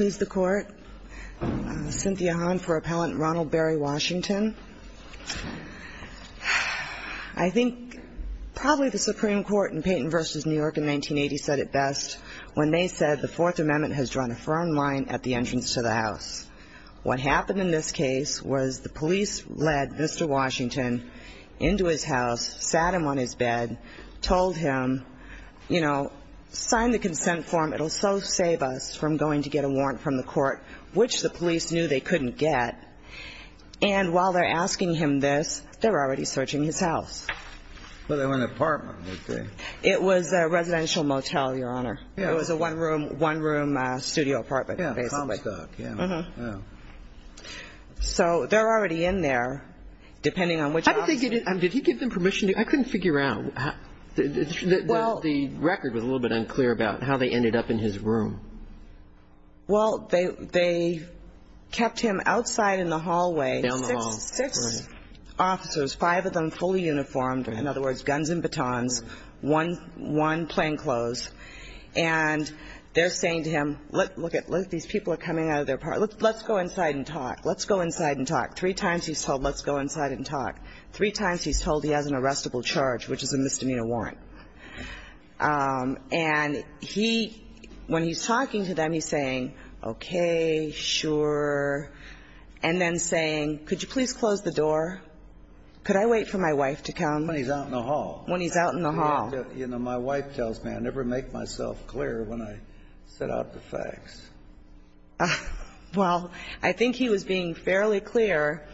I think probably the Supreme Court in Peyton v. New York in 1980 said it best when they said the Fourth Amendment has drawn a firm line at the entrance to the House. What happened in this case was the police led Mr. Washington into his house, sat him on his bed, told him, you know, sign the consent form, it'll so save us from going to get a warrant from the court, which the police knew they couldn't get. And while they're asking him this, they're already searching his house. But they were in an apartment, would they? It was a residential motel, Your Honor. It was a one-room, one-room studio apartment basically. So they're already in there, depending on which office. How did they get in? Did he give them permission? I couldn't figure out. The record was a little bit unclear about how they ended up in his room. Well, they kept him outside in the hallway. Down the hall. Six officers, five of them fully uniformed, in other words, guns and batons, one playing close. And they're saying to him, look, these people are coming out of their apartment. Let's go inside and talk. Let's go inside and talk. Three times he's told, let's go inside and talk. Three times he's told he has an arrestable charge, which is a misdemeanor warrant. And he, when he's talking to them, he's saying, okay, sure. And then saying, could you please close the door? Could I wait for my wife to come? When he's out in the hall. When he's out in the hall. You know, my wife tells me I never make myself clear when I set out the facts. Well, I think he was being fairly clear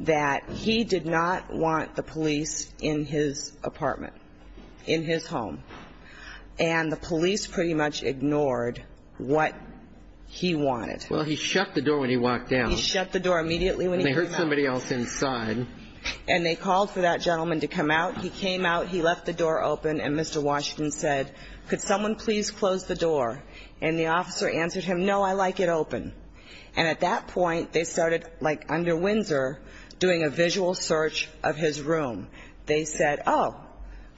that he did not want the police in his apartment, in his home. And the police pretty much ignored what he wanted. Well, he shut the door when he walked out. He shut the door immediately when he came out. And they heard somebody else inside. And they called for that gentleman to come out. He came out. He left the door open. And Mr. Washington said, could someone please close the door? And the officer answered him, no, I like it open. And at that point, they started, like under Windsor, doing a visual search of his room. They said, oh,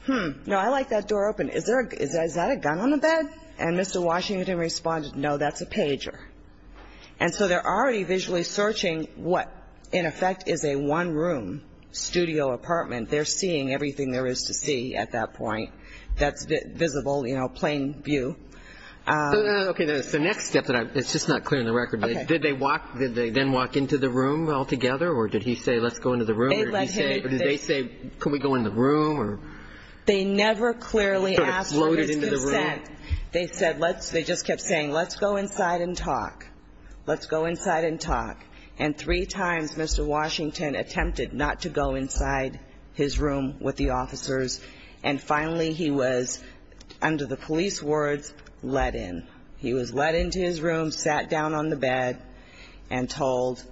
hmm, no, I like that door open. Is that a gun on the bed? And Mr. Washington responded, no, that's a pager. And so they're already visually searching what, in effect, is a one-room studio apartment. They're seeing everything there is to see at that point that's visible, you know, plain view. Okay. So the next step that I'm, it's just not clear on the record. Did they walk, did they then walk into the room altogether? Or did he say, let's go into the room? Or did they say, can we go in the room? They never clearly asked for his consent. They said, let's, they just kept saying, let's go inside and talk. Let's go inside and talk. And three times Mr. Washington attempted not to go inside his room with the officers. And finally he was, under the police words, let in. He was let into his room, sat down on the bed, and told,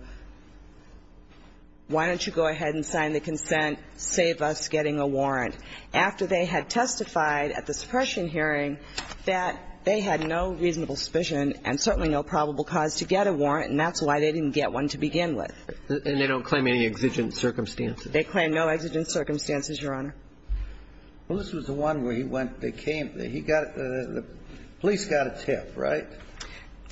why don't you go ahead and sign the consent, save us getting a warrant. After they had testified at the suppression hearing that they had no reasonable suspicion and certainly no probable cause to get a warrant, and that's why they didn't get one to begin with. And they don't claim any exigent circumstances? They claim no exigent circumstances, Your Honor. Well, this was the one where he went, they came, he got, the police got a tip, right?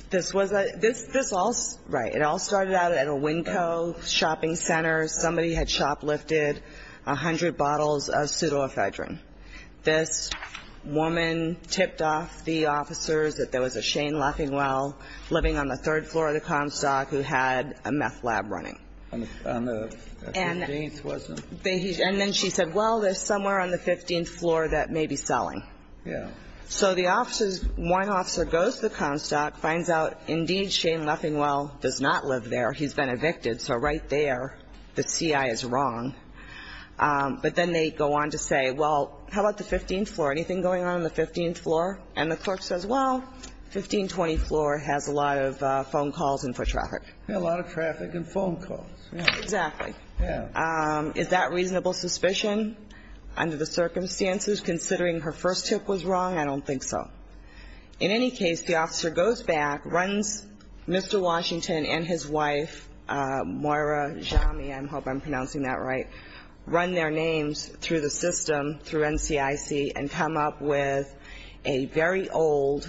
This was a, this all, right. It all started out at a Winco shopping center. Somebody had shoplifted 100 bottles of pseudoephedrine. This woman tipped off the officers that there was a Shane Leffingwell living on the third floor of the Comstock who had a meth lab running. On the 15th, wasn't it? And then she said, well, there's somewhere on the 15th floor that may be selling. Yeah. So the officers, one officer goes to the Comstock, finds out indeed Shane Leffingwell does not live there. He's been evicted. So right there, the CI is wrong. But then they go on to say, well, how about the 15th floor? Anything going on on the 15th floor? And the court says, well, 1520 floor has a lot of phone calls and foot traffic. A lot of traffic and phone calls. Exactly. Yeah. Is that reasonable suspicion under the circumstances, considering her first tip was wrong? I don't think so. In any case, the officer goes back, runs Mr. Washington and his wife, Moira Jami, I hope I'm pronouncing that right, run their names through the system, through NCIC, and come up with a very old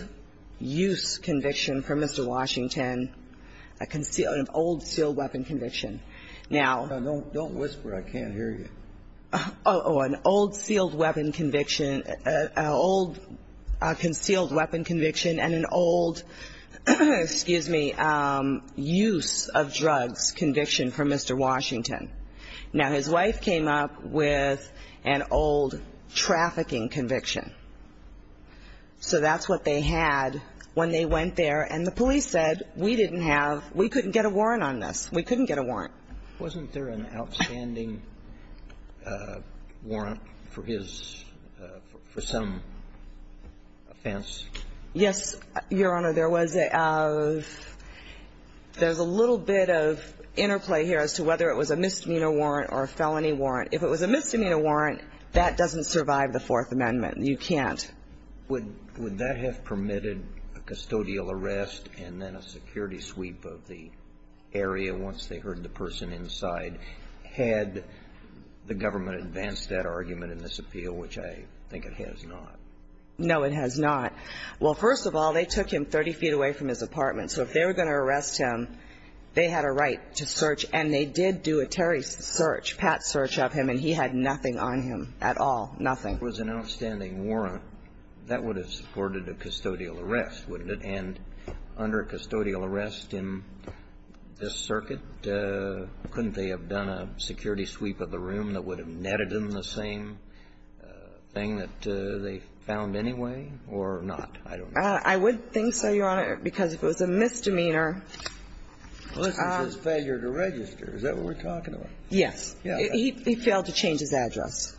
use conviction for Mr. Washington, an old sealed weapon conviction. Now don't whisper. I can't hear you. An old sealed weapon conviction, an old concealed weapon conviction and an old, excuse me, use of drugs conviction for Mr. Washington. Now his wife came up with an old trafficking conviction. So that's what they had when they went there. And the police said, we didn't have, we couldn't get a warrant on this. We couldn't get a warrant. Wasn't there an outstanding warrant for his, for some offense? Yes, Your Honor. There was a, there's a little bit of interplay here as to whether it was a misdemeanor warrant or a felony warrant. If it was a misdemeanor warrant, that doesn't survive the Fourth Amendment. You can't. Would that have permitted a custodial arrest and then a security sweep of the area once they heard the person inside? Had the government advanced that argument in this appeal, which I think it has not? No, it has not. Well, first of all, they took him 30 feet away from his apartment. So if they were going to arrest him, they had a right to search. And they did do a Terry search, Pat's search of him, and he had nothing on him at all, nothing. If it was an outstanding warrant, that would have supported a custodial arrest, wouldn't it? And under a custodial arrest in this circuit, couldn't they have done a security sweep of the room that would have netted him the same thing that they found anyway or not? I don't know. I would think so, Your Honor, because if it was a misdemeanor ---- Well, this is just failure to register. Is that what we're talking about? Yes. He failed to change his address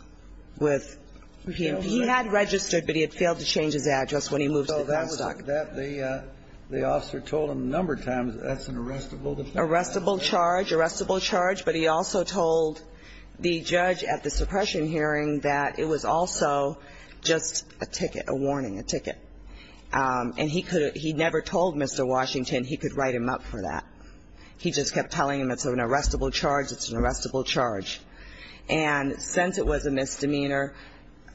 with ---- He had registered, but he had failed to change his address when he moved to Devanstock. The officer told him a number of times that that's an arrestable charge. Arrestable charge. Arrestable charge. But he also told the judge at the suppression hearing that it was also just a ticket, a warning, a ticket. And he could have ---- he never told Mr. Washington he could write him up for that. He just kept telling him it's an arrestable charge, it's an arrestable charge. And since it was a misdemeanor,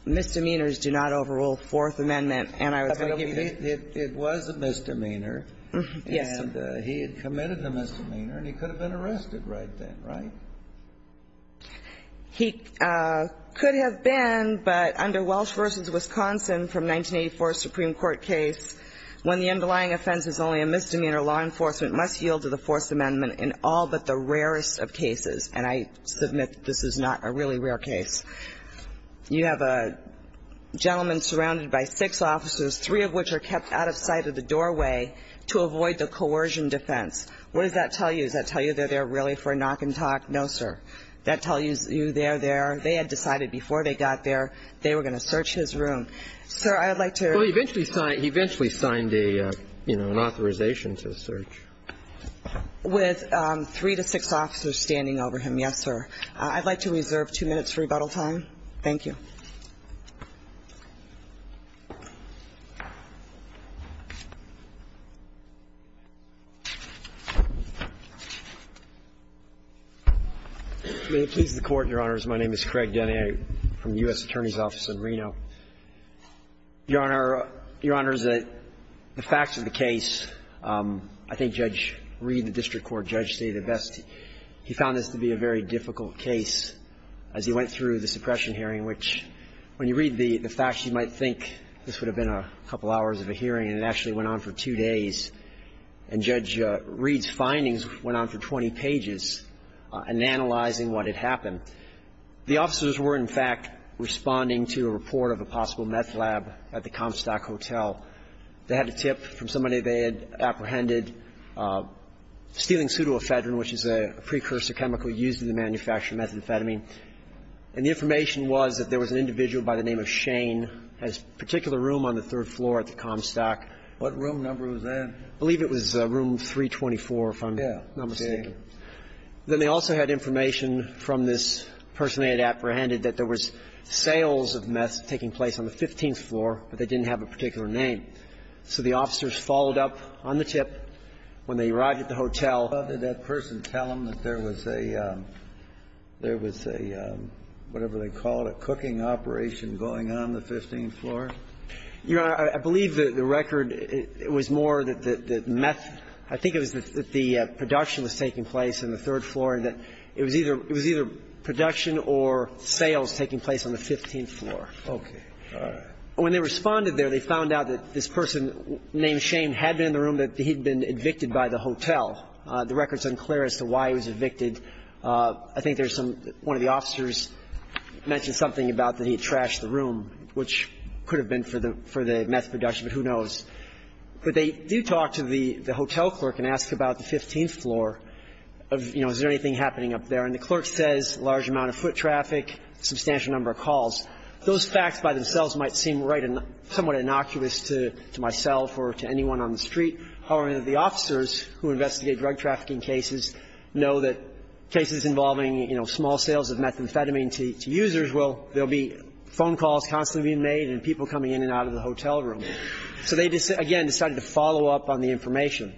misdemeanors do not overrule Fourth Amendment and I was going to give you the ---- It was a misdemeanor. Yes. And he had committed the misdemeanor and he could have been arrested right then, right? He could have been, but under Welsh v. Wisconsin from 1984 Supreme Court case, when the underlying offense is only a misdemeanor, law enforcement must yield to the Fourth Amendment in all but the rarest of cases. And I submit this is not a really rare case. You have a gentleman surrounded by six officers, three of which are kept out of sight of the doorway to avoid the coercion defense. What does that tell you? Does that tell you they're there really for a knock and talk? No, sir. That tells you they're there. They had decided before they got there they were going to search his room. Sir, I'd like to ---- Well, he eventually signed a, you know, an authorization to search. With three to six officers standing over him, yes, sir. I'd like to reserve two minutes for rebuttal time. Thank you. May it please the Court, Your Honors. My name is Craig Denny. I'm from the U.S. Attorney's Office in Reno. Your Honor, Your Honors, the facts of the case, I think Judge Reed, the district court judge, he found this to be a very difficult case as he went through the suppression hearing, which when you read the facts, you might think this would have been a couple hours of a hearing, and it actually went on for two days. And Judge Reed's findings went on for 20 pages in analyzing what had happened. The officers were, in fact, responding to a report of a possible meth lab at the Comstock Hotel. They had a tip from somebody they had apprehended stealing pseudoephedrine, which is a precursor chemical used in the manufacture of methamphetamine. And the information was that there was an individual by the name of Shane, has particular room on the third floor at the Comstock. What room number was that? I believe it was room 324 if I'm not mistaken. Yeah. Then they also had information from this person they had apprehended that there was sales of meth taking place on the 15th floor, but they didn't have a particular name. So the officers followed up on the tip when they arrived at the hotel. Did that person tell them that there was a – there was a whatever they called it, cooking operation going on the 15th floor? Your Honor, I believe that the record, it was more that the meth – I think it was that the production was taking place on the third floor and that it was either – it was either production or sales taking place on the 15th floor. Okay. All right. When they responded there, they found out that this person named Shane had been in the room that he'd been evicted by the hotel. The record's unclear as to why he was evicted. I think there's some – one of the officers mentioned something about that he had trashed the room, which could have been for the meth production, but who knows. But they do talk to the hotel clerk and ask about the 15th floor of, you know, is there anything happening up there. And the clerk says a large amount of foot traffic, substantial number of calls. Those facts by themselves might seem right and somewhat innocuous to myself or to anyone on the street. However, the officers who investigate drug trafficking cases know that cases involving, you know, small sales of methamphetamine to users will – there will be phone calls constantly being made and people coming in and out of the hotel room. So they, again, decided to follow up on the information.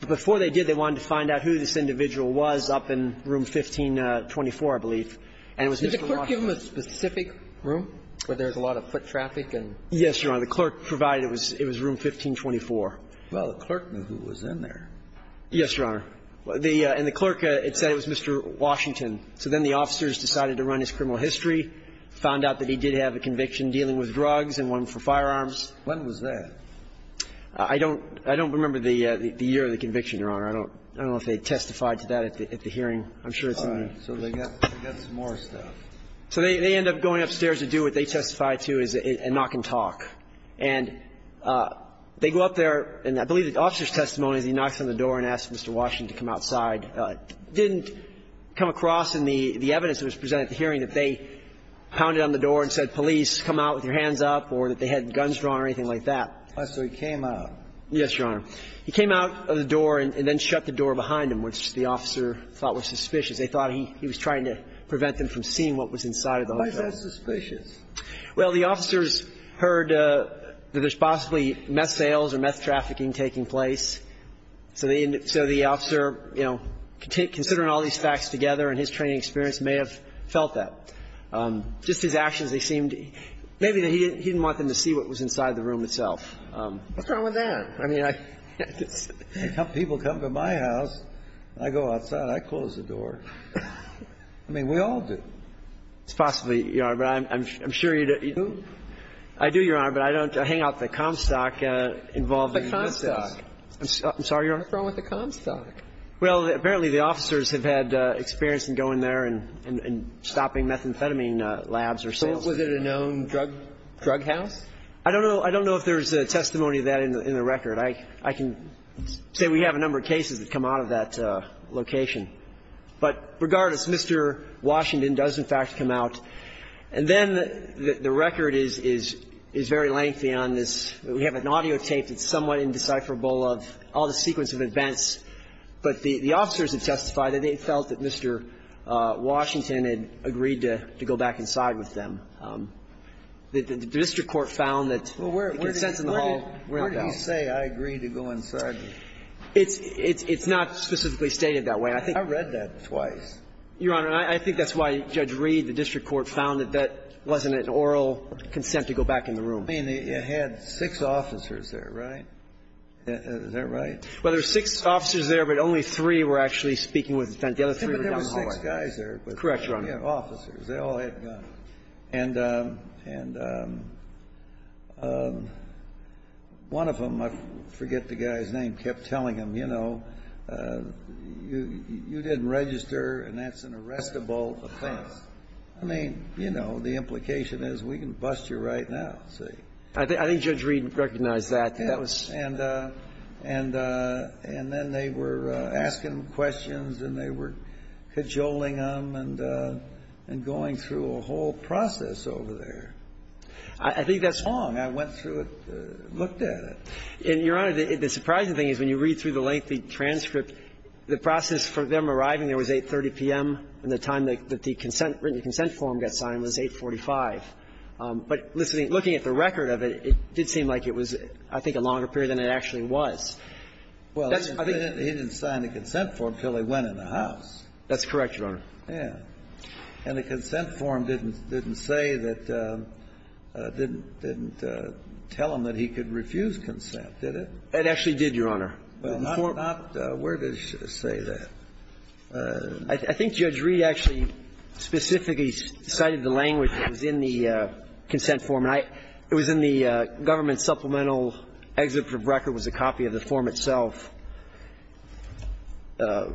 But before they did, they wanted to find out who this individual was up in room 1524, I believe. And it was Mr. Washington. Did the clerk give him a specific room where there was a lot of foot traffic and… Yes, Your Honor. The clerk provided it was room 1524. Well, the clerk knew who was in there. Yes, Your Honor. The – and the clerk, it said it was Mr. Washington. So then the officers decided to run his criminal history, found out that he did have a conviction dealing with drugs and one for firearms. When was that? I don't – I don't remember the year of the conviction, Your Honor. I don't – I don't know if they testified to that at the hearing. I'm sure it's in the… So they got – they got some more stuff. So they – they end up going upstairs to do what they testified to, is knock and talk. And they go up there, and I believe the officer's testimony is he knocks on the door and asks Mr. Washington to come outside. Didn't come across in the – the evidence that was presented at the hearing that they pounded on the door and said, police, come out with your hands up, or that they had guns drawn or anything like that. So he came out. Yes, Your Honor. He came out of the door and then shut the door behind him, which the officer thought was suspicious. They thought he – he was trying to prevent them from seeing what was inside of the hotel. Why is that suspicious? Well, the officers heard that there's possibly meth sales or meth trafficking taking place. So they – so the officer, you know, considering all these facts together and his training experience, may have felt that. Just his actions, they seemed – maybe he didn't want them to see what was inside the room itself. What's wrong with that? I mean, I just… A couple of people come to my house. I go outside. I close the door. I mean, we all do. It's possibly, Your Honor, but I'm sure you don't. You don't? I do, Your Honor, but I don't hang out at the Comstock involving meth sales. The Comstock. I'm sorry, Your Honor? What's wrong with the Comstock? Well, apparently the officers have had experience in going there and – and stopping methamphetamine labs or sales. So was it a known drug – drug house? I don't know. I don't know if there's testimony of that in the record. I can say we have a number of cases that come out of that location. But regardless, Mr. Washington does, in fact, come out. And then the record is – is very lengthy on this. We have an audio tape that's somewhat indecipherable of all the sequence of events. But the officers have testified that they felt that Mr. Washington had agreed to go back inside with them. The district court found that the consent in the hall went down. Where did you say I agreed to go inside? It's not specifically stated that way. I read that twice. Your Honor, I think that's why Judge Reed, the district court, found that that wasn't an oral consent to go back in the room. I mean, it had six officers there, right? Is that right? Well, there were six officers there, but only three were actually speaking with the defendant. The other three were down the hall. But there were six guys there. Correct, Your Honor. Yeah, officers. They all had guns. And – and one of them, I forget the guy's name, kept telling him, you know, you – you didn't register, and that's an arrestable offense. I mean, you know, the implication is we can bust you right now, see. I think – I think Judge Reed recognized that. Yeah. And – and then they were asking questions, and they were cajoling him and – and going through a whole process over there. I think that's wrong. I went through it, looked at it. And, Your Honor, the surprising thing is when you read through the lengthy transcript, the process for them arriving there was 8.30 p.m., and the time that the consent – written consent form got signed was 8.45. But listening – looking at the record of it, it did seem like it was, I think, a longer period than it actually was. Well, he didn't sign the consent form until they went in the house. That's correct, Your Honor. Yeah. And the consent form didn't – didn't say that – didn't – didn't tell him that he could refuse consent, did it? It actually did, Your Honor. Well, not – not – where did it say that? I think Judge Reed actually specifically cited the language that was in the consent form. And I – it was in the government supplemental exhibit of record was a copy of the form itself. The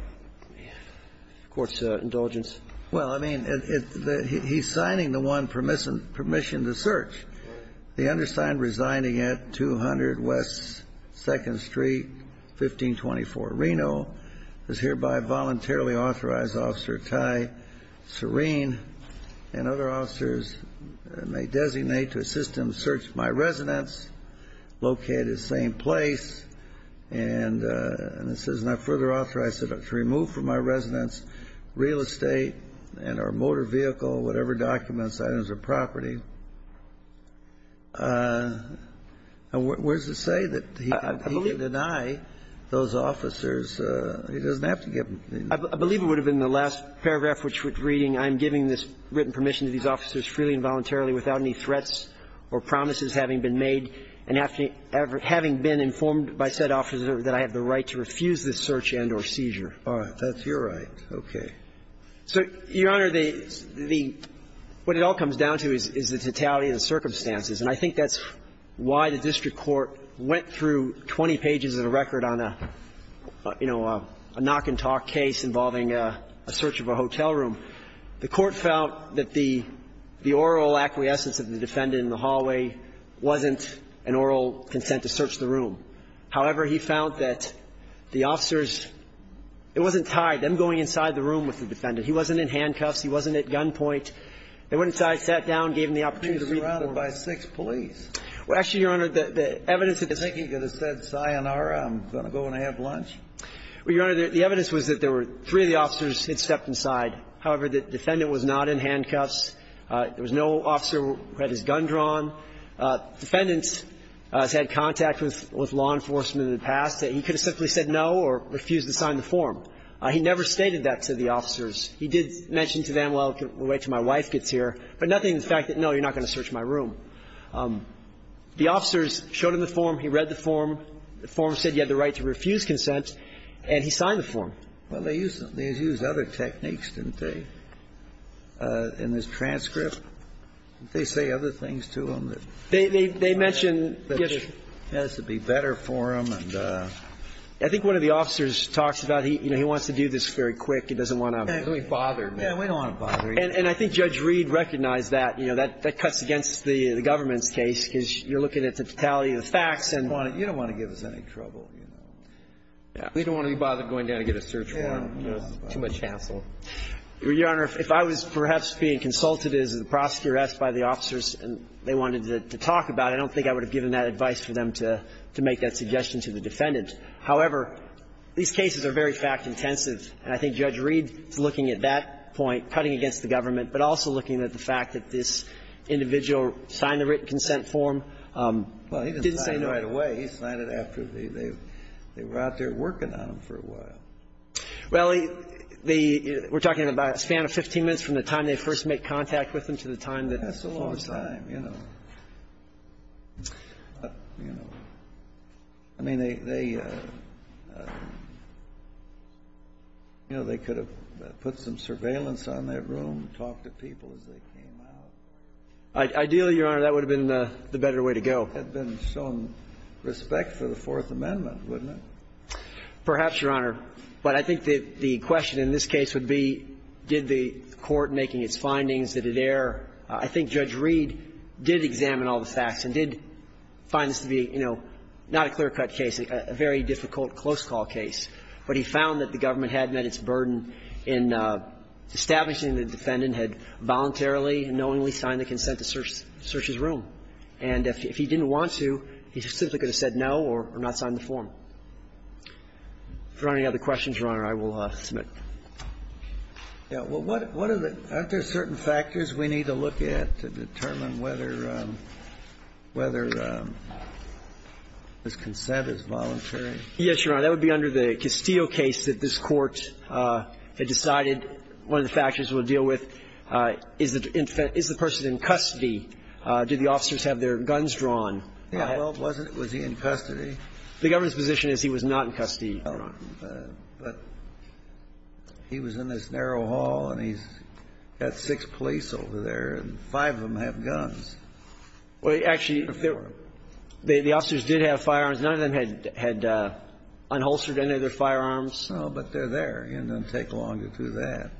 Court's indulgence. Well, I mean, it – it – he's signing the one permissive – permission to search. Right. The undersigned resigning at 200 West 2nd Street, 1524 Reno is hereby voluntarily authorized Officer Ty Serene and other officers may designate to assist him to search my residence located at the same place. And it says, and I further authorize it to remove from my residence real estate and or motor vehicle, whatever documents, items, or property. And where does it say that he can deny those officers? He doesn't have to give them anything. I believe it would have been the last paragraph, which was reading, I'm giving this written permission to these officers freely and voluntarily without any threats or promises having been made, and having been informed by said officer that I have the right to refuse this search and or seizure. All right. That's your right. Okay. So, Your Honor, the – what it all comes down to is the totality of the circumstances. And I think that's why the district court went through 20 pages of the record on a, you know, a knock-and-talk case involving a search of a hotel room. The court felt that the oral acquiescence of the defendant in the hallway wasn't an oral consent to search the room. However, he found that the officers – it wasn't tied. Them going inside the room with the defendant. He wasn't in handcuffs. He wasn't at gunpoint. They went inside, sat down, gave him the opportunity to read the report. He was surrounded by six police. Well, actually, Your Honor, the evidence that this – I think he could have said, sayonara, I'm going to go and have lunch. Well, Your Honor, the evidence was that there were three of the officers had stepped inside. However, the defendant was not in handcuffs. There was no officer who had his gun drawn. The defendant has had contact with law enforcement in the past. He could have simply said no or refused to sign the form. He never stated that to the officers. He did mention to them, well, wait till my wife gets here. But nothing to the fact that, no, you're not going to search my room. The officers showed him the form. He read the form. The form said he had the right to refuse consent, and he signed the form. Well, they used – they used other techniques, didn't they, in this transcript? Didn't they say other things to him that – They mentioned –– has to be better for him. And I think one of the officers talks about, you know, he wants to do this very quick. He doesn't want to – He doesn't want to be bothered. Yeah, we don't want to bother him. And I think Judge Reed recognized that. You know, that cuts against the government's case, because you're looking at the totality of the facts and – You don't want to give us any trouble, you know. Yeah. We don't want to be bothered going down to get a search warrant. Too much hassle. Your Honor, if I was perhaps being consulted as the prosecutor asked by the officers and they wanted to talk about it, I don't think I would have given that advice for them to make that suggestion to the defendant. However, these cases are very fact-intensive. And I think Judge Reed is looking at that point, cutting against the government, but also looking at the fact that this individual signed the written consent form, didn't say no. Well, he didn't sign it right away. He signed it after they were out there working on him for a while. Well, the – we're talking about a span of 15 minutes from the time they first That's a long time, you know. I mean, they – you know, they could have put some surveillance on that room, talked to people as they came out. Ideally, Your Honor, that would have been the better way to go. There would have been some respect for the Fourth Amendment, wouldn't it? Perhaps, Your Honor. But I think that the question in this case would be, did the court, making its findings, did it err? I think Judge Reed did examine all the facts and did find this to be, you know, not a clear-cut case, a very difficult close call case. But he found that the government had met its burden in establishing that the defendant had voluntarily and knowingly signed the consent to search his room. And if he didn't want to, he simply could have said no or not signed the form. If there aren't any other questions, Your Honor, I will submit. Yeah. Well, what are the – aren't there certain factors we need to look at to determine whether – whether this consent is voluntary? Yes, Your Honor. That would be under the Castillo case that this Court had decided one of the factors it would deal with is the person in custody. Did the officers have their guns drawn? Yeah. Well, it wasn't. Was he in custody? The government's position is he was not in custody, Your Honor. But he was in this narrow hall, and he's got six police over there, and five of them have guns. Well, actually, the officers did have firearms. None of them had unholstered any of their firearms. No, but they're there. It doesn't take long to do that.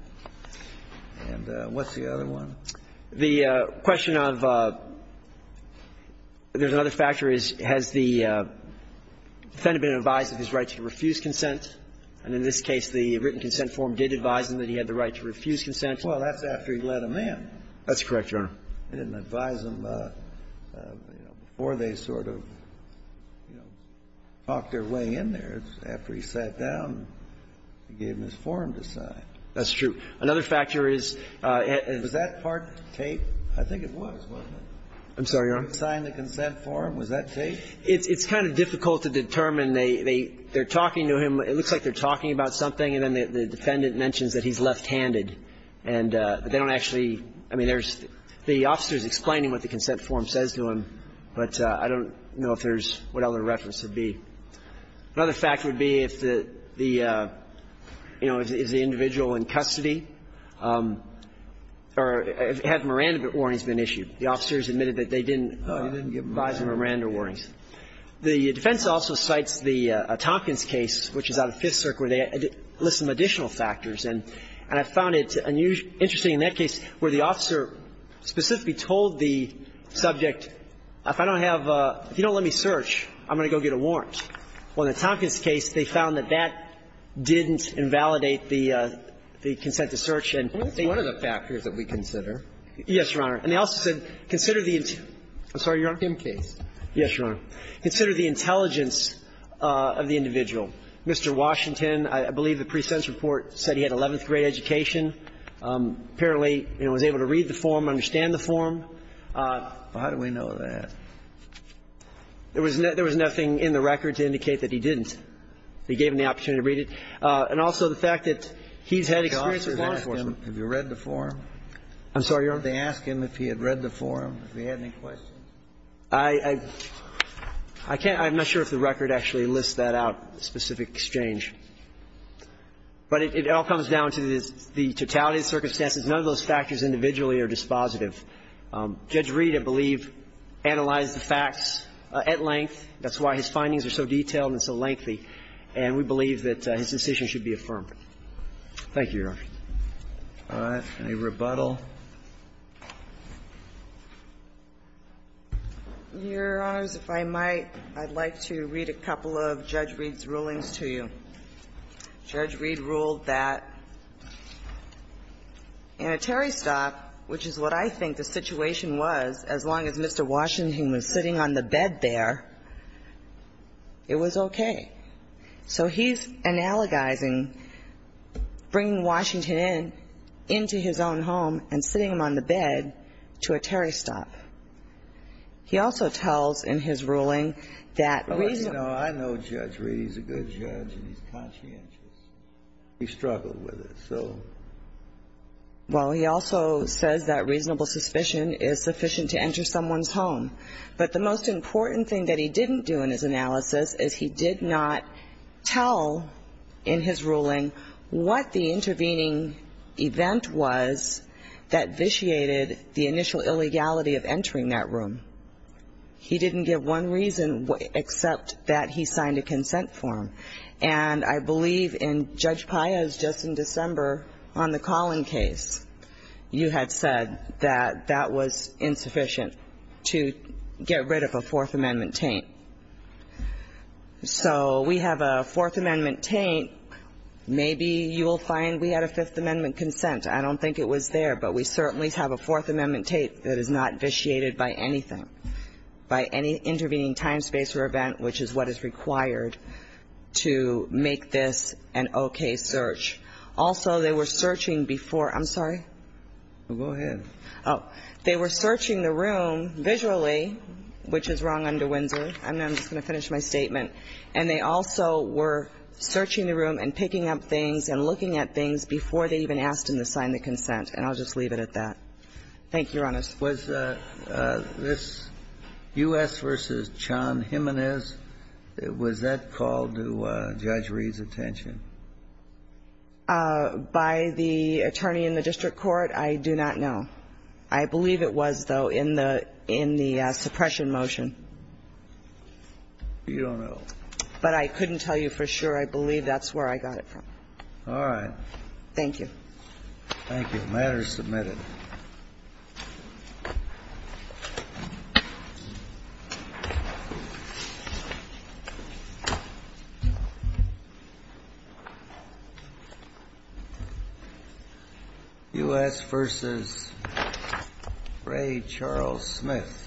And what's the other one? The question of – there's another factor is, has the defendant been advised of his right to refuse consent? And in this case, the written consent form did advise him that he had the right to refuse consent. Well, that's after he let them in. That's correct, Your Honor. They didn't advise him before they sort of, you know, talked their way in there. It's after he sat down and gave them his form to sign. That's true. Another factor is – Was that part taped? I think it was, wasn't it? I'm sorry, Your Honor. He signed the consent form. Was that taped? It's kind of difficult to determine. They're talking to him. It looks like they're talking about something, and then the defendant mentions that he's left-handed. And they don't actually – I mean, there's – the officer is explaining what the consent form says to him, but I don't know if there's what other reference would be. Another factor would be if the, you know, is the individual in custody or had Miranda warnings been issued. The officers admitted that they didn't advise him of Miranda warnings. The defense also cites the Tompkins case, which is out of Fifth Circuit, where they list some additional factors. And I found it interesting in that case where the officer specifically told the subject, if I don't have a – if you don't let me search, I'm going to go get a warrant. Well, in the Tompkins case, they found that that didn't invalidate the consent to search, and they – I think that's one of the factors that we consider. Yes, Your Honor. And they also said, consider the – I'm sorry, Your Honor. Kim case. Yes, Your Honor. Consider the intelligence of the individual. Mr. Washington, I believe the presense report said he had 11th grade education. Apparently, you know, was able to read the form, understand the form. Well, how do we know that? There was nothing in the record to indicate that he didn't. They gave him the opportunity to read it. And also the fact that he's had experience with law enforcement. Have you read the form? I'm sorry, Your Honor. Did they ask him if he had read the form, if he had any questions? I can't – I'm not sure if the record actually lists that out, specific exchange. But it all comes down to the totality of circumstances. None of those factors individually are dispositive. Judge Reed, I believe, analyzed the facts at length. That's why his findings are so detailed and so lengthy. And we believe that his decision should be affirmed. Thank you, Your Honor. All right. Any rebuttal? Your Honors, if I might, I'd like to read a couple of Judge Reed's rulings to you. Judge Reed ruled that in a Terry stop, which is what I think the situation was, as long as Mr. Washington was sitting on the bed there, it was okay. So he's analogizing bringing Washington into his own home and sitting him on the bed to a Terry stop. He also tells in his ruling that reason – Well, you know, I know Judge Reed. He's a good judge and he's conscientious. He struggled with it. So – Well, he also says that reasonable suspicion is sufficient to enter someone's home. But the most important thing that he didn't do in his analysis is he did not tell in his ruling what the intervening event was that vitiated the initial illegality of entering that room. He didn't give one reason except that he signed a consent form. And I believe in Judge Paez, just in December, on the Collin case, you had said that that was insufficient to get rid of a Fourth Amendment taint. So we have a Fourth Amendment taint. Maybe you will find we had a Fifth Amendment consent. I don't think it was there, but we certainly have a Fourth Amendment taint that is not vitiated by anything, by any intervening time, space or event, which is what is required to make this an okay search. Also, they were searching before – I'm sorry? Go ahead. Oh. They were searching the room visually, which is wrong under Windsor. I'm just going to finish my statement. And they also were searching the room and picking up things and looking at things before they even asked him to sign the consent. And I'll just leave it at that. Thank you, Your Honor. Was this U.S. v. John Jimenez, was that called to Judge Reed's attention? By the attorney in the district court, I do not know. I believe it was, though, in the suppression motion. You don't know. But I couldn't tell you for sure. I believe that's where I got it from. All right. Thank you. Thank you. The matter is submitted. U.S. v. Ray Charles Smith.